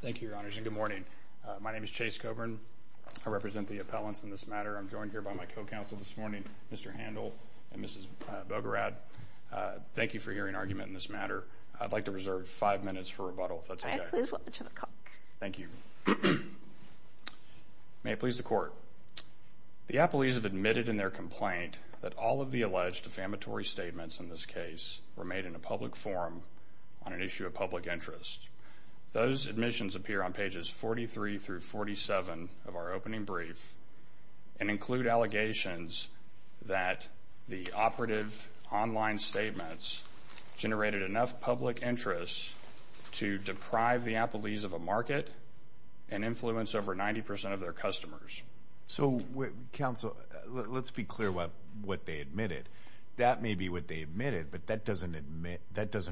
Thank you, Your Honors, and good morning. My name is Chase Coburn. I represent the appellants in this matter. I'm joined here by my co-counsel this morning, Mr. Handel and Mrs. Bogorad. Thank you for hearing an argument in this matter. I'd like to reserve five minutes for rebuttal, if that's okay. I please welcome to the court. Thank you. May it please the court. The appellees have admitted in their complaint that all of the alleged defamatory statements in this case were made in a public forum on an issue of public interest. Those admissions appear on pages 43 through 47 of our opening brief and include allegations that the operative online statements generated enough public interest to deprive the appellees of a market and influence over 90 percent of their customers. So, counsel, let's be clear what they admitted. That may be what they admitted, but that doesn't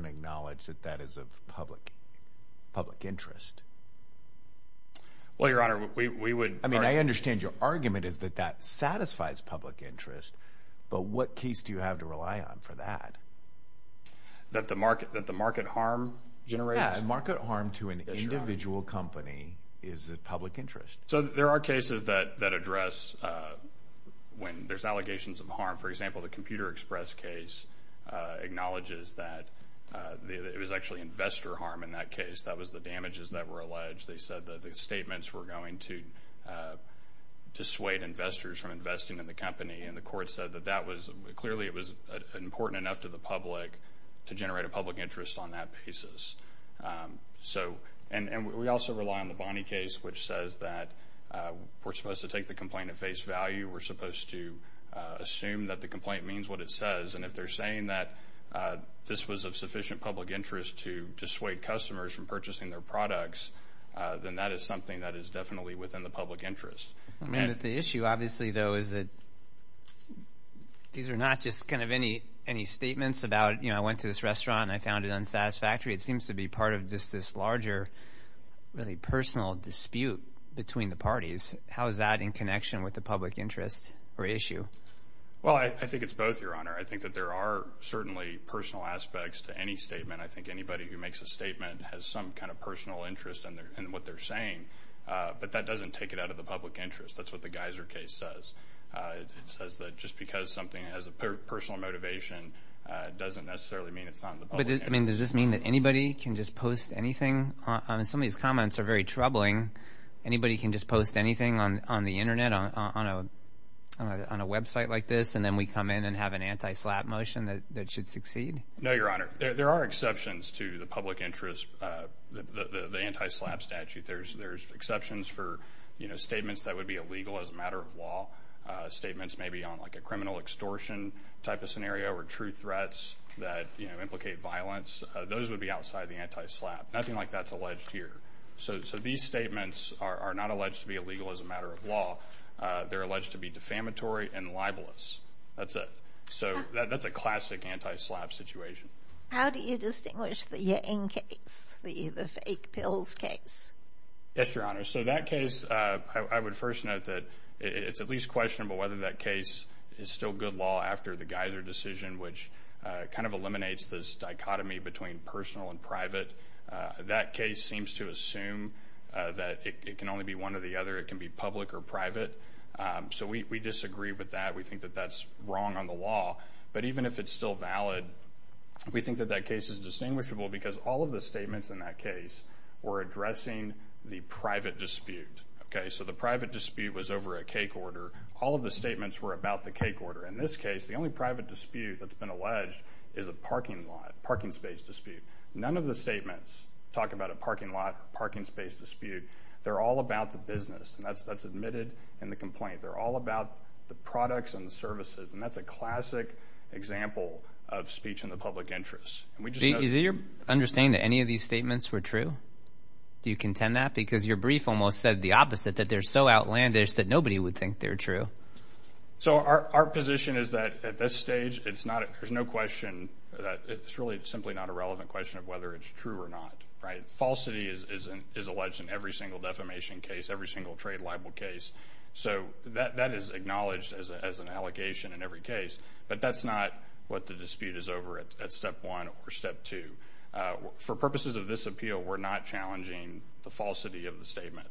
acknowledge that that is of public interest. Well, Your Honor, we would... I mean, I understand your argument is that that satisfies public interest, but what case do you have to rely on for that? That the market harm generates? Yeah, market harm to an individual company is of public For example, the Computer Express case acknowledges that it was actually investor harm in that case. That was the damages that were alleged. They said that the statements were going to dissuade investors from investing in the company, and the court said that that was... clearly it was important enough to the public to generate a public interest on that basis. So, and we also rely on the Bonney case, which says that we're supposed to take the complaint at face value. We're supposed to assume that the complaint means what it says, and if they're saying that this was of sufficient public interest to dissuade customers from purchasing their products, then that is something that is definitely within the public interest. I mean, but the issue, obviously, though, is that these are not just kind of any statements about, you know, I went to this restaurant and I found it unsatisfactory. It seems to be part of just this larger, really personal dispute between the parties. How is that in connection with the public interest or issue? Well, I think it's both, Your Honor. I think that there are certainly personal aspects to any statement. I think anybody who makes a statement has some kind of personal interest in what they're saying, but that doesn't take it out of the public interest. That's what the Geiser case says. It says that just because something has a personal motivation doesn't necessarily mean it's not in the public interest. But does this mean that anybody can just post anything? I mean, some of these comments are very troubling. Anybody can just post anything on the Internet, on a website like this, and then we come in and have an anti-SLAPP motion that should succeed? No, Your Honor. There are exceptions to the public interest, the anti-SLAPP statute. There's exceptions for, you know, statements that would be illegal as a matter of law, statements maybe on like a criminal extortion type of scenario or true threats that, you know, implicate violence. Those would be outside the anti-SLAPP. Nothing like that's alleged here. So these statements are not alleged to be illegal as a matter of law. They're alleged to be defamatory and libelous. That's it. So that's a classic anti-SLAPP situation. How do you distinguish the end case, the fake pills case? Yes, Your Honor. So that case, I would first note that it's at least questionable whether that case is still good law after the Geiser decision, which kind of eliminates this dichotomy between personal and private. That case seems to assume that it can only be one or the other. It can be public or private. So we disagree with that. We think that that's wrong on the law. But even if it's still valid, we think that that case is distinguishable because all of the statements in that case were addressing the private dispute. Okay? So the private dispute was over a cake order. All of the statements were about the cake order. In this case, the only private dispute that's been alleged is a parking lot, parking space dispute. None of the statements talk about a parking lot, parking space dispute. They're all about the business, and that's admitted in the complaint. They're all about the products and the services, and that's a classic example of speech in the public interest. Is it your understanding that any of these statements were true? Do you contend that? Because your brief almost said the opposite, that they're so outlandish that nobody would think they're true. So our position is that at this stage, there's no question. It's really simply not a relevant question of whether it's true or not, right? Falsity is alleged in every single defamation case, every single trade libel case. So that is acknowledged as an allegation in every case, but that's not what the dispute is over at step one or step two. For purposes of this appeal, we're not challenging the falsity of the statement.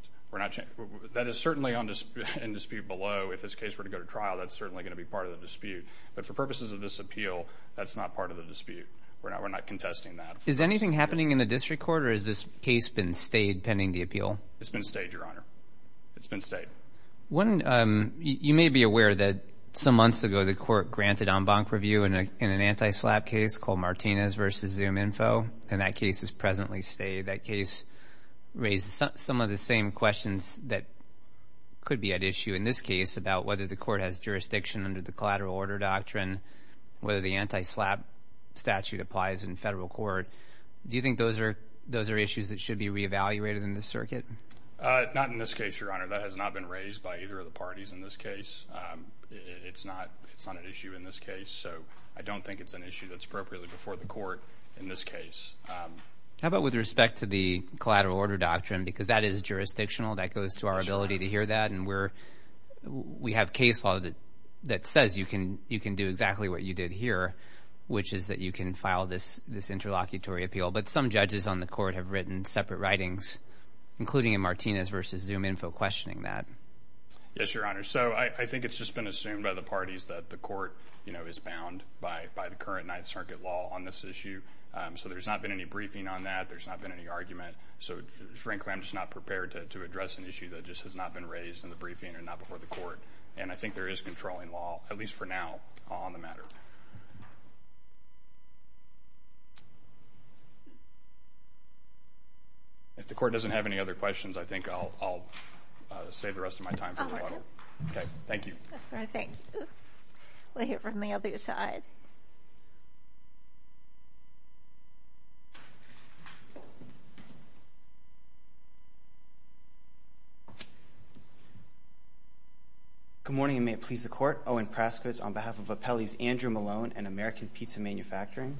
That is certainly in dispute below. If this case were to go to trial, that's certainly going to be part of the dispute. But for purposes of this appeal, that's not part of the dispute. We're not contesting that. Is anything happening in the district court, or has this case been stayed pending the appeal? It's been stayed, Your Honor. It's been stayed. You may be aware that some months ago, the court granted en banc review in an anti-SLAPP case called Martinez v. ZoomInfo, and that case is presently stayed. That case raised some of the same questions that could be at issue in this case about whether the court has jurisdiction under the collateral order doctrine, whether the anti-SLAPP statute applies in federal court. Do you think those are issues that should be reevaluated in this circuit? Not in this case, Your Honor. That has not been raised by either of the parties in this case. It's not an issue in this case, so I don't think it's an issue that's appropriately before the court in this case. How about with respect to the collateral order doctrine, because that is jurisdictional. That goes to our ability to hear that, and we have case law that says you can do exactly what you did here, which is that you can file this interlocutory appeal. But some judges on the court have written separate writings, including in Martinez v. ZoomInfo, questioning that. Yes, Your Honor. So I think it's just been assumed by the parties that the court is bound by the current Ninth Circuit law on this issue. So there's not been any briefing on that. There's not been any argument. So frankly, I'm just not prepared to address an issue that just has not been raised in the briefing and not before the court. And I think there is controlling law, at least for now, on the matter. If the court doesn't have any other questions, I think I'll save the rest of my time for the water. Okay. Thank you. All right. Thank you. We'll hear from the other side. Good morning, and may it please the Court. Owen Praskowitz on behalf of Appellees Andrew Malone and American Pizza Manufacturing.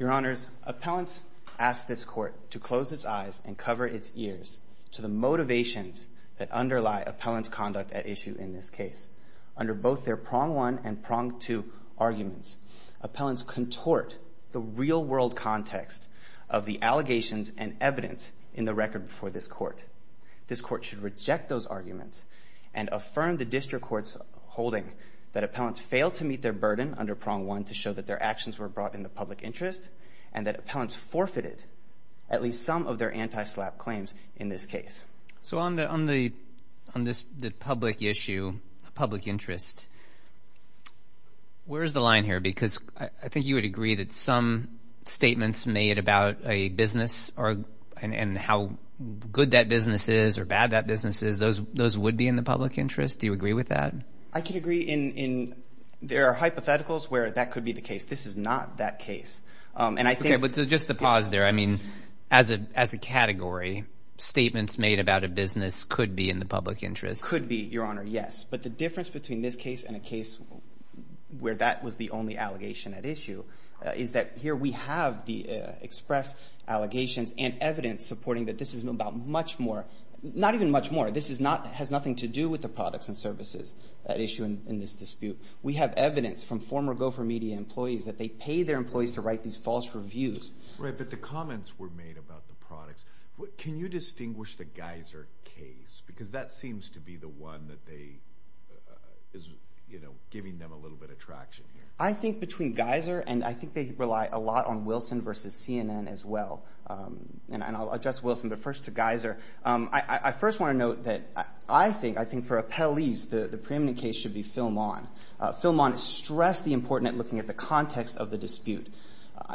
Your Honors, appellants ask this court to close its eyes and cover its ears to the motivations that underlie appellant's conduct at issue in this case. Under both their prong one and prong two arguments, appellants contort the real world context of the allegations and evidence in the record before this court. This court should reject those arguments and affirm the district court's holding that appellants failed to meet their burden under prong one to show that their actions were brought in the public interest and that appellants forfeited at least some of their anti-SLAPP claims in this case. So on the public issue, public interest, where is the line here? Because I think you would agree that some statements made about a business and how good that business is or bad that business is, those would be in the public interest. Do you agree with that? I can agree. There are hypotheticals where that could be the case. This is not that case. Just to pause there, I mean, as a category, statements made about a business could be in the public interest. Could be, Your Honor, yes. But the difference between this case and a case where that was the only allegation at issue is that here we have the express allegations and evidence supporting that this is about much more, not even much more. This has nothing to do with the products and services at issue in this dispute. We have evidence from former Gopher Media employees that they pay their employees to write these false reviews. Right, but the comments were made about the products. Can you distinguish the Geiser case? Because that seems to be the one that is giving them a little bit of traction here. I think between Geiser and I think they rely a lot on Wilson v. CNN as well. And I'll address Wilson, but first to Geiser. I first want to note that I think for appellees the preeminent case should be Film-On. Film-On stressed the importance of looking at the context of the dispute.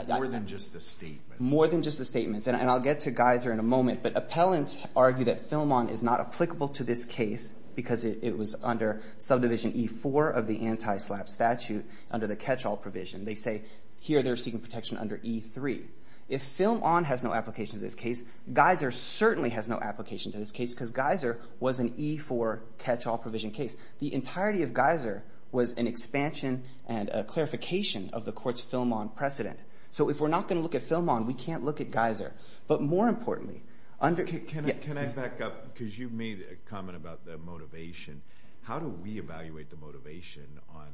More than just the statements. More than just the statements. And I'll get to Geiser in a moment. But appellants argue that Film-On is not applicable to this case because it was under subdivision E-4 of the anti-SLAPP statute under the catch-all provision. They say here they're seeking protection under E-3. If Film-On has no application to this case, Geiser certainly has no application to this case because Geiser was an E-4 catch-all provision case. The entirety of Geiser was an expansion and a clarification of the court's Film-On precedent. So if we're not going to look at Film-On, we can't look at Geiser. But more importantly, under... Can I back up? Because you made a comment about the motivation. How do we evaluate the motivation on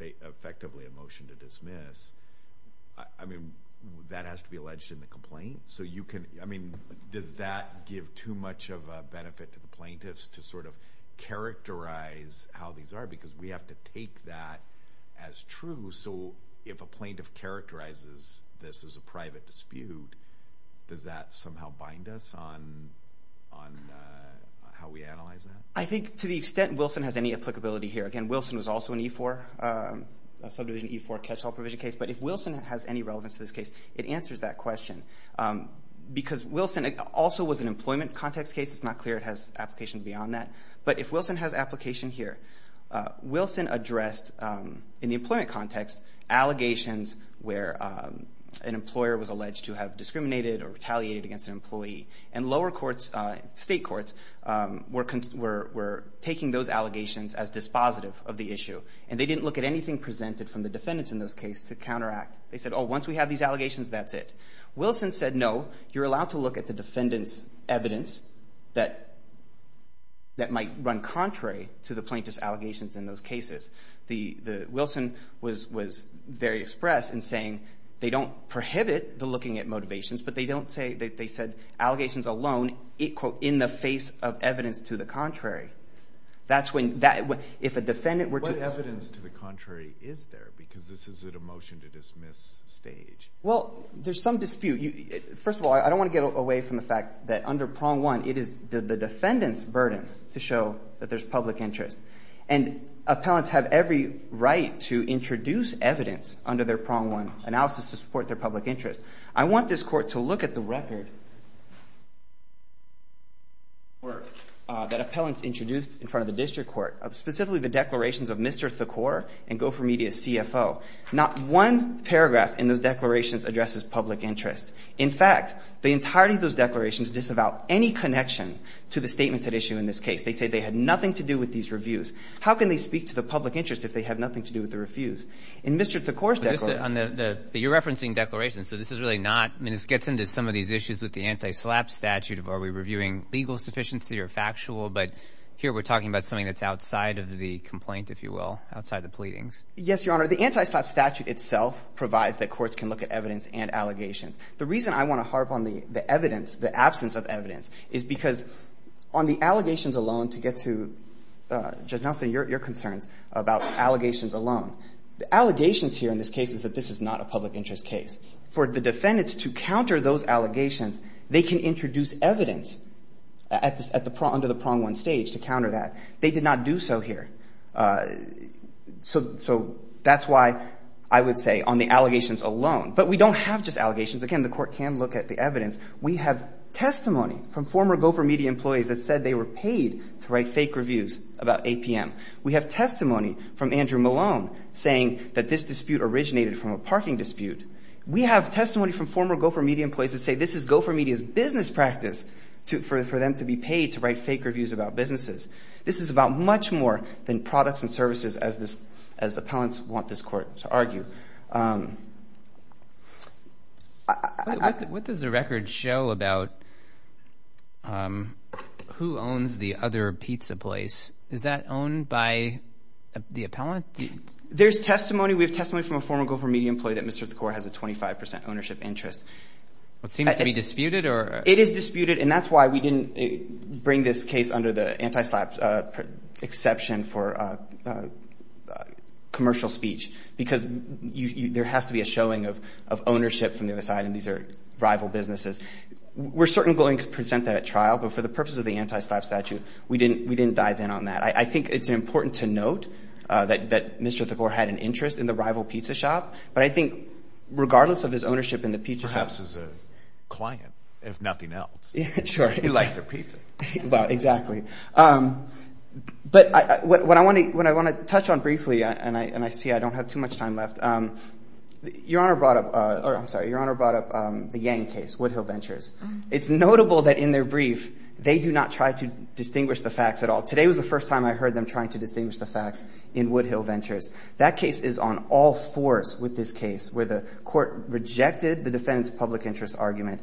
effectively a motion to dismiss? I mean, that has to be alleged in the complaint. So you can... I mean, does that give too much of a benefit to the plaintiffs to sort of characterize how these are? Because we have to take that as true. So if a plaintiff characterizes this as a private dispute, does that somehow bind us on how we analyze that? I think to the extent Wilson has any applicability here... Again, Wilson was also an E-4, a subdivision E-4 catch-all provision case. But if Wilson has any relevance to this case, it answers that question. Because Wilson also was an employment context case. It's not clear it has application beyond that. But if Wilson has application here, Wilson addressed, in the employment context, allegations where an employer was alleged to have discriminated or retaliated against an employee. And lower courts, state courts, were taking those allegations as dispositive of the issue. And they didn't look at anything presented from the defendants in those cases to counteract. They said, oh, once we have these allegations, that's it. Wilson said, no, you're allowed to look at the defendant's evidence that might run contrary to the plaintiff's allegations in those cases. The... Wilson was very express in saying they don't prohibit the looking at motivations, but they don't say... They said allegations alone equal in the face of evidence to the contrary. That's when... If a defendant were to... What evidence to the contrary is there? Because this is at a motion-to-dismiss stage. Well, there's some dispute. First of all, I don't want to get away from the fact that under Prong 1, it is the defendant's burden to show that there's public interest. And appellants have every right to introduce evidence under their Prong 1 analysis to support their public interest. I want this Court to look at the record that appellants introduced in front of the district court, specifically the declarations of Mr. Thakor and Gopher Media's CFO. Not one paragraph in those declarations addresses public interest. In fact, the entirety of those declarations disavow any connection to the statements at issue in this case. They say they had nothing to do with these reviews. How can they speak to the public interest if they have nothing to do with the reviews? In Mr. Thakor's declaration... But this is on the... You're referencing declarations, so this is really not... I mean, this gets into some of these issues with the anti-SLAPP statute of are we reviewing legal sufficiency or factual? But here we're talking about something that's outside of the complaint, if you will, outside the pleadings. Yes, Your Honor. The anti-SLAPP statute itself provides that courts can look at evidence and allegations. The reason I want to harp on the evidence, the absence of evidence, is because on the allegations alone, to get to, Judge Nelson, your concerns about allegations alone, the allegations here in this case is that this is not a public interest case. For the defendants to counter those allegations, they can introduce evidence under the prong one stage to counter that. They did not do so here. So that's why I would say on the allegations alone. But we don't have just allegations. Again, the court can look at the evidence. We have testimony from former Gopher Media employees that said they were paid to write fake reviews about APM. We have testimony from Andrew Malone saying that this dispute originated from a parking dispute. We have testimony from former Gopher Media employees that say this is Gopher Media's business practice for them to be paid to write fake reviews about businesses. This is about much more than products and services, as appellants want this court to argue. What does the record show about who owns the other pizza place? Is that owned by the appellant? There's testimony. We have testimony from a former Gopher Media employee that Mr. Thakora has a 25 percent ownership interest. It seems to be disputed or? It is disputed, and that's why we didn't bring this case under the anti-SLAPP exception for commercial speech, because there has to be a showing of ownership from the other side, and these are rival businesses. We're certainly going to present that at trial, but for the purpose of the anti-SLAPP statute, we didn't dive in on that. I think it's important to note that Mr. Thakora had an interest in the rival pizza shop, but I think regardless of his ownership in the pizza shop. Perhaps as a client, if nothing else. Sure. He liked their pizza. Exactly. But what I want to touch on briefly, and I see I don't have too much time left, Your Honor brought up the Yang case, Woodhill Ventures. It's notable that in their brief, they do not try to distinguish the facts at all. Today was the first time I heard them trying to distinguish the facts in Woodhill Ventures. That case is on all fours with this case, where the court rejected the defendant's public interest argument,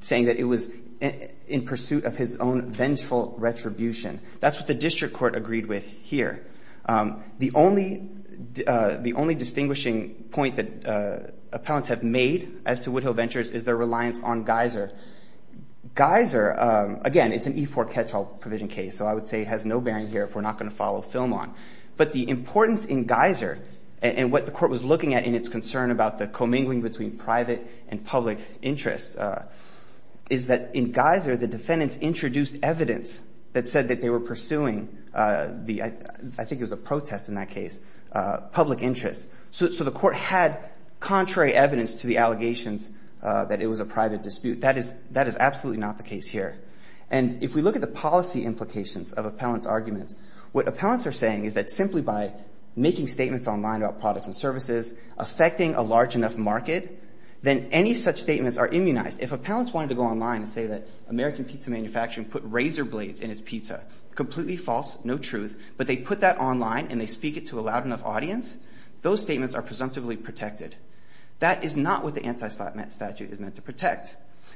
saying that it was in pursuit of his own vengeful retribution. That's what the district court agreed with here. The only distinguishing point that appellants have made as to Woodhill Ventures is their reliance on Geiser. Geiser, again, it's an E-4 catch-all provision case, so I would say it has no bearing here if we're not going to follow film on. But the importance in Geiser, and what the court was looking at in its concern about the commingling between private and public interest, is that in Geiser, the defendants introduced evidence that said that they were pursuing the, I think it was a protest in that case, public interest. So the court had contrary evidence to the allegations that it was a private dispute. That is absolutely not the case here. And if we look at the policy implications of a defendant's arguments, what appellants are saying is that simply by making statements online about products and services, affecting a large enough market, then any such statements are immunized. If appellants wanted to go online and say that American pizza manufacturing put razor blades in his pizza, completely false, no truth, but they put that online and they speak it to a loud enough audience, those statements are presumptively protected. That is not what the anti-slap statute is meant to protect.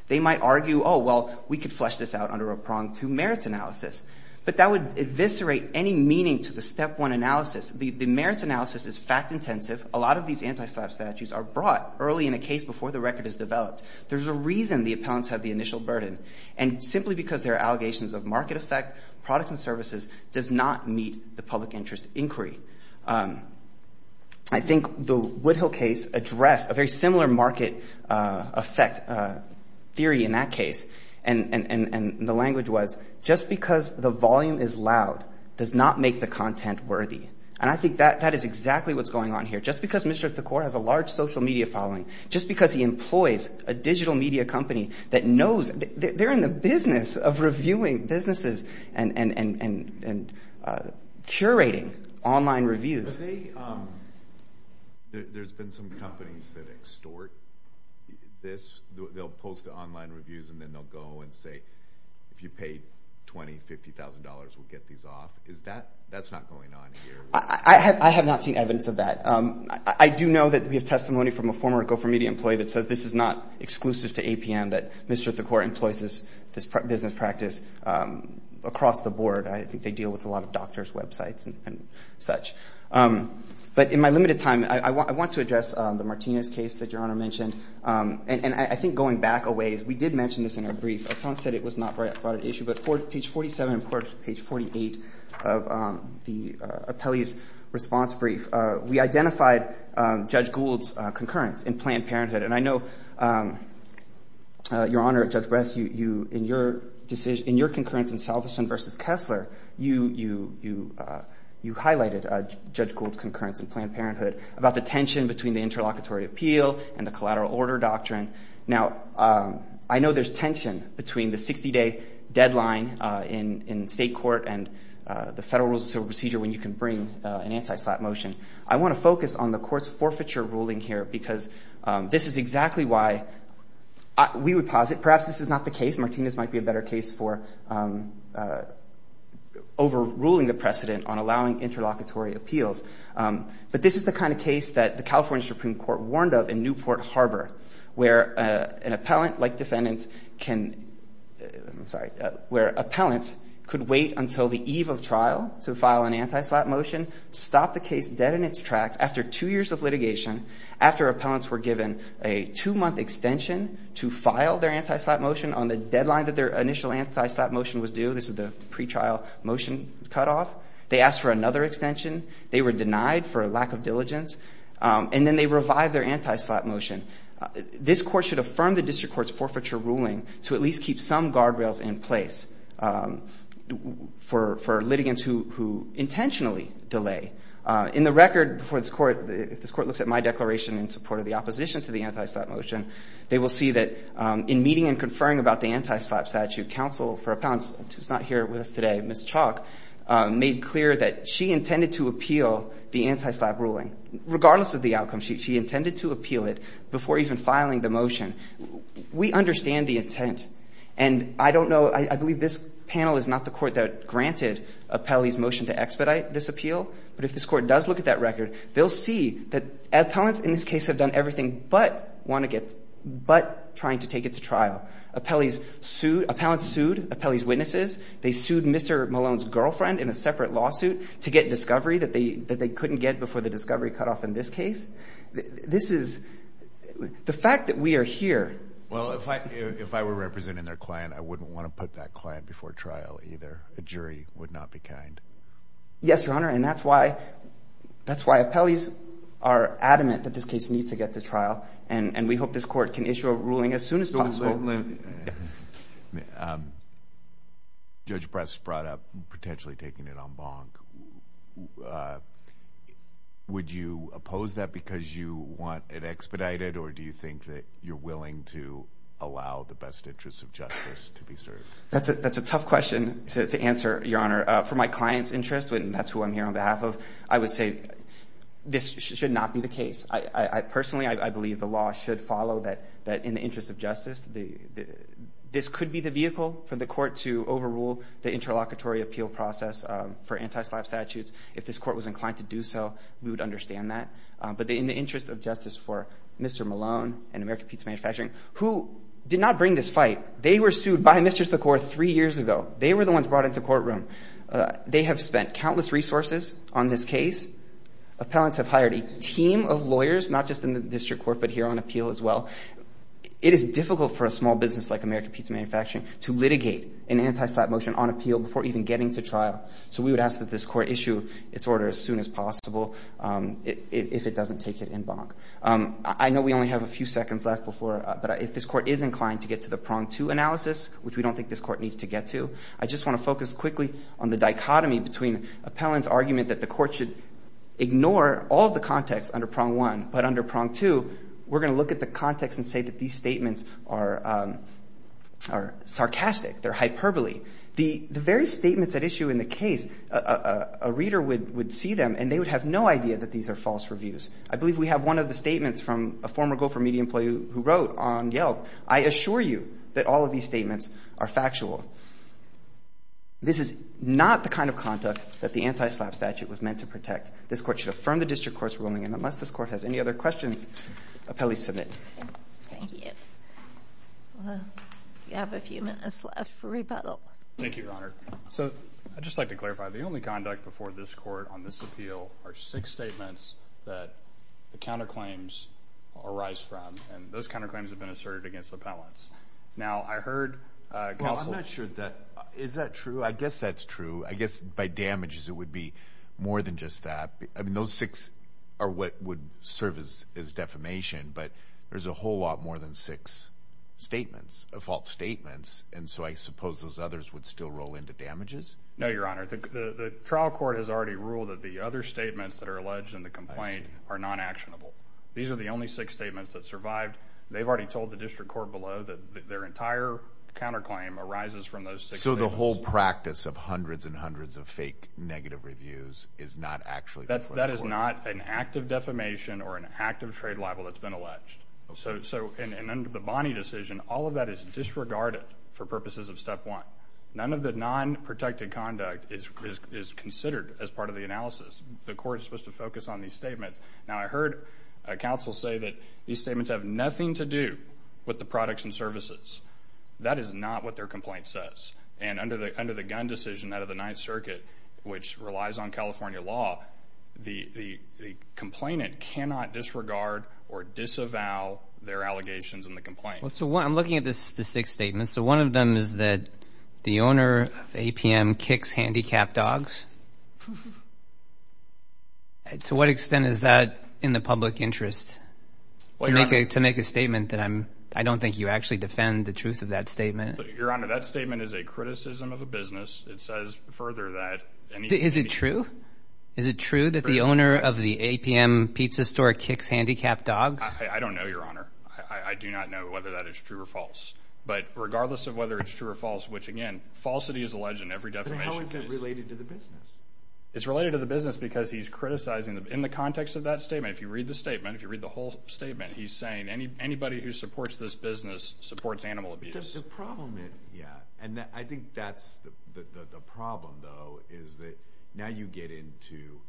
They might argue, oh, well, we could flesh this out under a prong to merits analysis. But that would eviscerate any meaning to the step one analysis. The merits analysis is fact intensive. A lot of these anti-slap statutes are brought early in a case before the record is developed. There's a reason the appellants have the initial burden. And simply because there are allegations of market effect, products and services does not meet the public interest inquiry. I think the Woodhill case addressed a very similar market effect theory in that case. And the language was, just because the volume is loud does not make the content worthy. And I think that is exactly what's going on here. Just because Mr. Thakur has a large social media following, just because he employs a digital media company that knows, they're in the business of reviewing businesses and curating online content, that doesn't mean they can't do online reviews. There's been some companies that extort this. They'll post the online reviews, and then they'll go and say, if you paid $20,000, $50,000, we'll get these off. Is that, that's not going on here? I have not seen evidence of that. I do know that we have testimony from a former Gopher Media employee that says this is not exclusive to APM, that Mr. Thakur employs this business across the board. I think they deal with a lot of doctors' websites and such. But in my limited time, I want to address the Martinez case that Your Honor mentioned. And I think going back a ways, we did mention this in our brief. Our client said it was not brought at issue, but for page 47 and page 48 of the appellee's response brief, we identified Judge Gould's concurrence in Planned Parenthood. And I know, Your Honor, Judge West, you, in your decision, in your concurrence in Salveson v. Kessler, you, you, you, you highlighted Judge Gould's concurrence in Planned Parenthood about the tension between the interlocutory appeal and the collateral order doctrine. Now, I know there's tension between the 60-day deadline in, in state court and the federal rules of procedure when you can bring an anti-SLAPP motion. I want to focus on the Perhaps this is not the case. Martinez might be a better case for overruling the precedent on allowing interlocutory appeals. But this is the kind of case that the California Supreme Court warned of in Newport Harbor, where an appellant, like defendants, can, I'm sorry, where appellants could wait until the eve of trial to file an anti-SLAPP motion, stop the case dead in its tracks after two years of litigation, after appellants were given a two-month extension to file their anti-SLAPP motion on the deadline that their initial anti-SLAPP motion was due. This is the pretrial motion cutoff. They asked for another extension. They were denied for lack of diligence. And then they revived their anti-SLAPP motion. This court should affirm the district court's forfeiture ruling to at least keep some guardrails in place for, for litigants who, who intentionally delay. In the record for this court, if this court looks at my declaration in support of the opposition to the anti-SLAPP motion, they will see that in meeting and conferring about the anti-SLAPP statute, counsel for appellants, who's not here with us today, Ms. Chalk, made clear that she intended to appeal the anti-SLAPP ruling, regardless of the outcome. She, she intended to appeal it before even filing the motion. We understand the intent. And I don't know, I, I believe this panel is not the court that granted Appellee's motion to expedite this appeal. But if this court does look at that record, they'll see that appellants in this case have done everything but want to get, but trying to take it to trial. Appellees sued, appellants sued Appellee's witnesses. They sued Mr. Malone's girlfriend in a separate lawsuit to get discovery that they, that they couldn't get before the discovery cutoff in this case. This is, the fact that we are here. Well, if I, if I were representing their client, I wouldn't want to put that client before trial either. The jury would not be kind. Yes, Your Honor, and that's why, that's why appellees are adamant that this case needs to get to trial, and, and we hope this court can issue a ruling as soon as possible. Judge Press brought up potentially taking it en banc. Would you oppose that because you want it expedited, or do you think that you're trying to allow the best interests of justice to be served? That's a, that's a tough question to, to answer, Your Honor. For my client's interest, and that's who I'm here on behalf of, I would say this should not be the case. I, I, I personally, I, I believe the law should follow that, that in the interest of justice, the, the, this could be the vehicle for the court to overrule the interlocutory appeal process for anti-slap statutes. If this court was inclined to do so, we would understand that. But in the interest of justice for Mr. Malone and American Pizza Manufacturing, who did not bring this fight, they were sued by Mr. Thakor three years ago. They were the ones brought into the courtroom. They have spent countless resources on this case. Appellants have hired a team of lawyers, not just in the district court, but here on appeal as well. It is difficult for a small business like American Pizza Manufacturing to litigate an anti-slap motion on appeal before even getting to trial. So we would ask that this court issue its order as soon as possible if, if it could. I believe we only have a few seconds left before, but if this court is inclined to get to the prong two analysis, which we don't think this court needs to get to, I just want to focus quickly on the dichotomy between appellant's argument that the court should ignore all of the context under prong one, but under prong two, we're going to look at the context and say that these statements are, are sarcastic. They're hyperbole. The, the very statements at issue in the case, a, a, a reader would, would see them and they would have no idea that these are false reviews. I believe we have one of the statements from a former Gopher Media employee who, who wrote on Yelp. I assure you that all of these statements are factual. This is not the kind of conduct that the anti-slap statute was meant to protect. This court should affirm the district court's ruling and unless this court has any other questions, appellees submit. Thank you. Well, we have a few minutes left for rebuttal. Thank you, your honor. So, I'd just like to clarify, the only conduct before this court on this appeal are six statements that the counterclaims arise from. And those counterclaims have been asserted against the appellants. Now, I heard counsel. Well, I'm not sure that, is that true? I guess that's true. I guess by damages, it would be more than just that. I mean, those six are what would serve as, as defamation, but there's a whole lot more than six statements, fault statements. And so, I suppose those others would still roll into damages? No, your honor. The trial court has already ruled that the other statements that are alleged in the complaint are non-actionable. These are the only six statements that survived. They've already told the district court below that their entire counterclaim arises from those six statements. So, the whole practice of hundreds and hundreds of fake negative reviews is not actually the case? That is not an act of defamation or an act of trade libel that's been alleged. So, in the Bonney decision, all of that is disregarded for purposes of step one. None of the non-protected conduct is considered as part of the analysis. The court is supposed to focus on these statements. Now, I heard counsel say that these statements have nothing to do with the products and services. That is not what their complaint says. And under the gun decision out of the Ninth Circuit, which relies on California law, the complainant cannot disregard or disavow their allegations in the complaint. So, I'm looking at the six statements. So, one of them is that the owner of APM kicks handicapped dogs. To what extent is that in the public interest? To make a statement that I don't think you actually defend the truth of that statement. Your Honor, that statement is a criticism of the business. It says further that... Is it true? Is it true that the owner of the APM pizza store kicks handicapped dogs? I don't know, Your Honor. I do not know whether that is true or false. But regardless of whether it's true or false, which, again, falsity is alleged in every defamation case. How is it related to the business? It's related to the business because he's criticizing them. In the context of that statement, if you read the statement, if you read the whole statement, he's saying anybody who supports this business supports animal abuse. The problem is, yeah, and I think that's the problem, though, is that now you get into...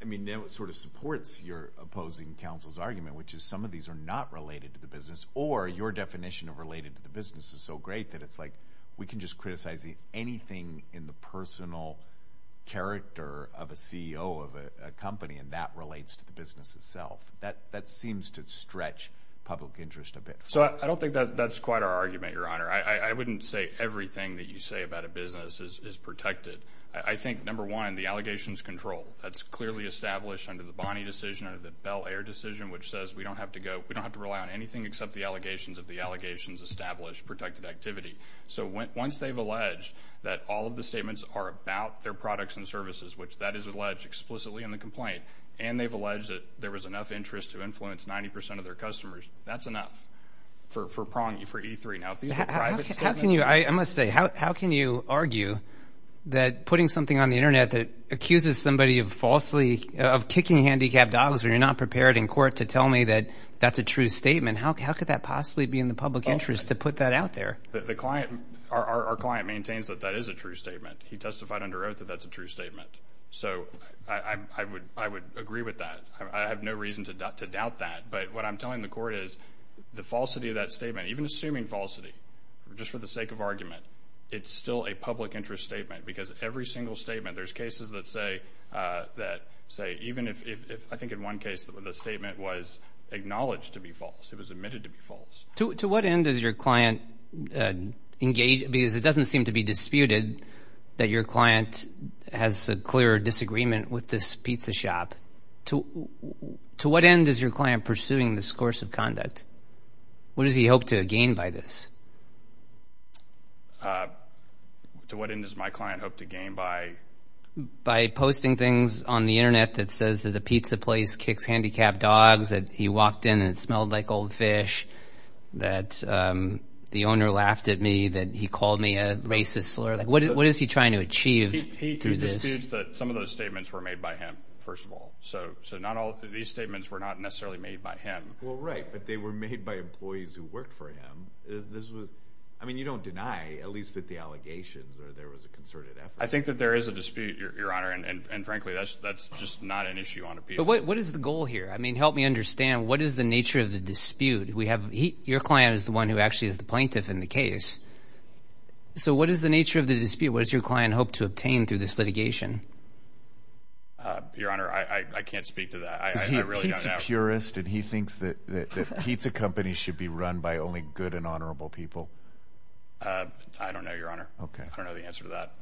I mean, now it sort of supports your opposing counsel's argument, which is some of these are not related to the business or your definition of related to the business is so great that it's like we can just criticize anything in the personal character of a CEO of a company and that relates to the business itself. That seems to stretch public interest a bit. So I don't think that's quite our argument, Your Honor. I wouldn't say everything that you say about a business is protected. I think, number one, the allegations control. That's clearly established under the Bonney decision, under the Bel Air decision, which says we don't have to go... if the allegations establish protected activity. So once they've alleged that all of the statements are about their products and services, which that is alleged explicitly in the complaint, and they've alleged that there was enough interest to influence 90% of their customers, that's enough for E3. Now, if these were private statements... I must say, how can you argue that putting something on the Internet that accuses somebody of kicking handicapped dogs when you're not prepared in court to tell me that that's a true statement, how could that possibly be in the public interest to put that out there? Our client maintains that that is a true statement. He testified under oath that that's a true statement. So I would agree with that. I have no reason to doubt that. But what I'm telling the court is the falsity of that statement, even assuming falsity, just for the sake of argument, it's still a public interest statement because every single statement... There's cases that say even if... I think in one case the statement was acknowledged to be false. It was admitted to be false. To what end does your client engage... Because it doesn't seem to be disputed that your client has a clear disagreement with this pizza shop. To what end is your client pursuing this course of conduct? What does he hope to gain by this? To what end does my client hope to gain by... By posting things on the Internet that says that the pizza place kicks handicapped dogs, that he walked in and it smelled like old fish, that the owner laughed at me, that he called me a racist slur. What is he trying to achieve through this? He disputes that some of those statements were made by him, first of all. So these statements were not necessarily made by him. Well, right, but they were made by employees who worked for him. I mean, you don't deny, at least at the allegations, that there was a concerted effort. I think that there is a dispute, Your Honor, and frankly that's just not an issue on appeal. But what is the goal here? I mean, help me understand, what is the nature of the dispute? Your client is the one who actually is the plaintiff in the case. So what is the nature of the dispute? What does your client hope to obtain through this litigation? Your Honor, I can't speak to that. I really don't know. Is he a pizza purist and he thinks that pizza companies should be run by only good and honorable people? I don't know, Your Honor. I don't know the answer to that.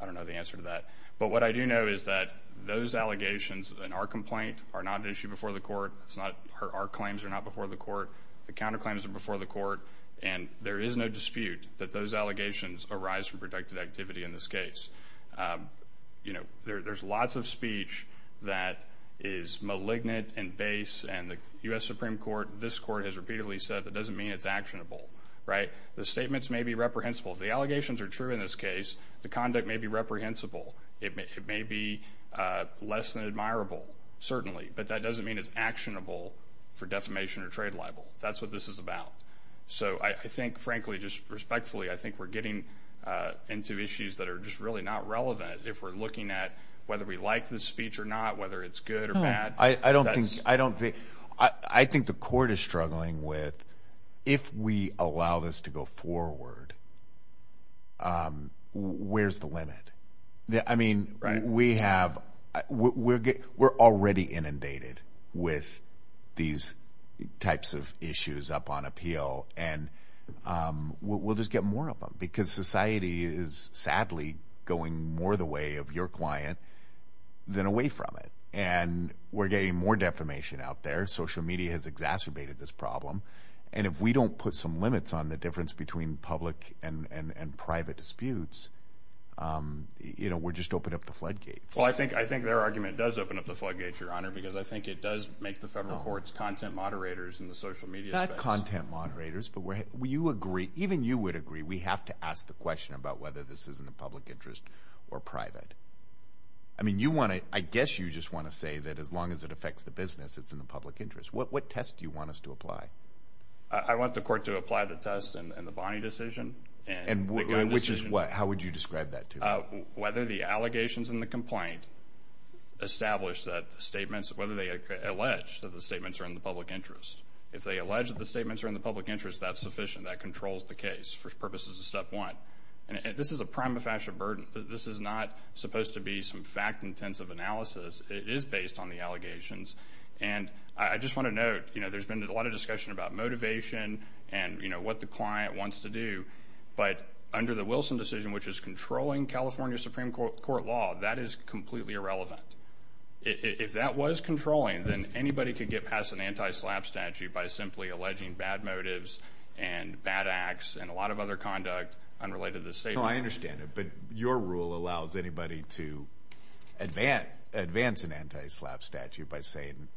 I don't know the answer to that. But what I do know is that those allegations in our complaint are not an issue before the court. Our claims are not before the court. The counterclaims are before the court. And there is no dispute that those allegations arise from productive activity in this case. You know, there's lots of speech that is malignant and base, and the U.S. Supreme Court, this court, has repeatedly said that doesn't mean it's actionable, right? The statements may be reprehensible. The allegations are true in this case. The conduct may be reprehensible. It may be less than admirable, certainly, but that doesn't mean it's actionable for defamation or trade libel. That's what this is about. So I think, frankly, just respectfully, I think we're getting into issues that are just really not relevant if we're looking at whether we like this speech or not, whether it's good or bad. I don't think the court is struggling with, if we allow this to go forward, where's the limit? I mean, we're already inundated with these types of issues up on appeal, and we'll just get more of them because society is, sadly, going more the way of your client than away from it. And we're getting more defamation out there. Social media has exacerbated this problem, and if we don't put some limits on the difference between public and private disputes, we'll just open up the floodgates. Well, I think their argument does open up the floodgates, Your Honor, because I think it does make the federal courts content moderators in the social media space. Not content moderators, but even you would agree we have to ask the question about whether this is in the public interest or private. I mean, I guess you just want to say that as long as it affects the business, it's in the public interest. What test do you want us to apply? I want the court to apply the test in the Bonney decision. Which is what? How would you describe that to me? Whether the allegations in the complaint establish that the statements, whether they allege that the statements are in the public interest. If they allege that the statements are in the public interest, that's sufficient. That controls the case for purposes of step one. This is a prima facie burden. This is not supposed to be some fact-intensive analysis. It is based on the allegations. And I just want to note, you know, there's been a lot of discussion about motivation and, you know, what the client wants to do. But under the Wilson decision, which is controlling California Supreme Court law, that is completely irrelevant. If that was controlling, then anybody could get past an anti-slap statute by simply alleging bad motives and bad acts and a lot of other conduct unrelated to the statement. No, I understand it. But your rule allows anybody to advance an anti-slap statute by saying,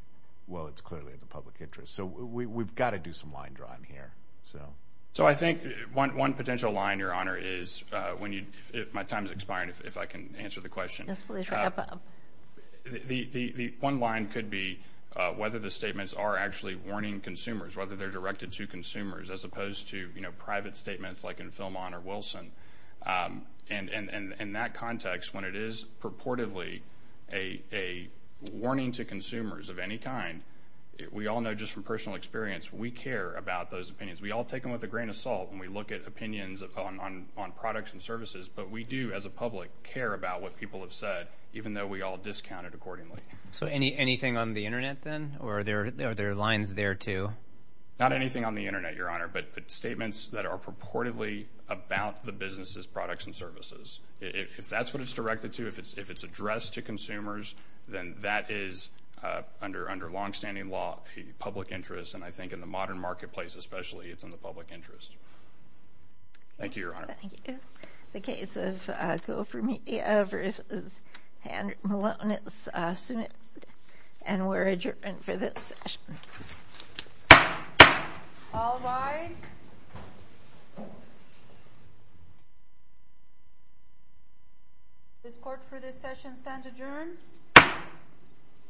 well, it's clearly in the public interest. So we've got to do some line drawing here. So I think one potential line, Your Honor, is when you – my time is expiring, if I can answer the question. Yes, please. The one line could be whether the statements are actually warning consumers, whether they're directed to consumers, as opposed to, you know, private statements like in Filmon or Wilson. And in that context, when it is purportedly a warning to consumers of any kind, we all know just from personal experience, we care about those opinions. We all take them with a grain of salt when we look at opinions on products and services. But we do, as a public, care about what people have said, even though we all discount it accordingly. So anything on the Internet then? Or are there lines there too? Not anything on the Internet, Your Honor, but statements that are purportedly about the business's products and services. If that's what it's directed to, if it's addressed to consumers, then that is, under longstanding law, a public interest. And I think in the modern marketplace especially, it's in the public interest. Thank you, Your Honor. Thank you. The case of Coframedia v. Malonitz is submitted. And we're adjourned for this session. All rise. This court for this session stands adjourned.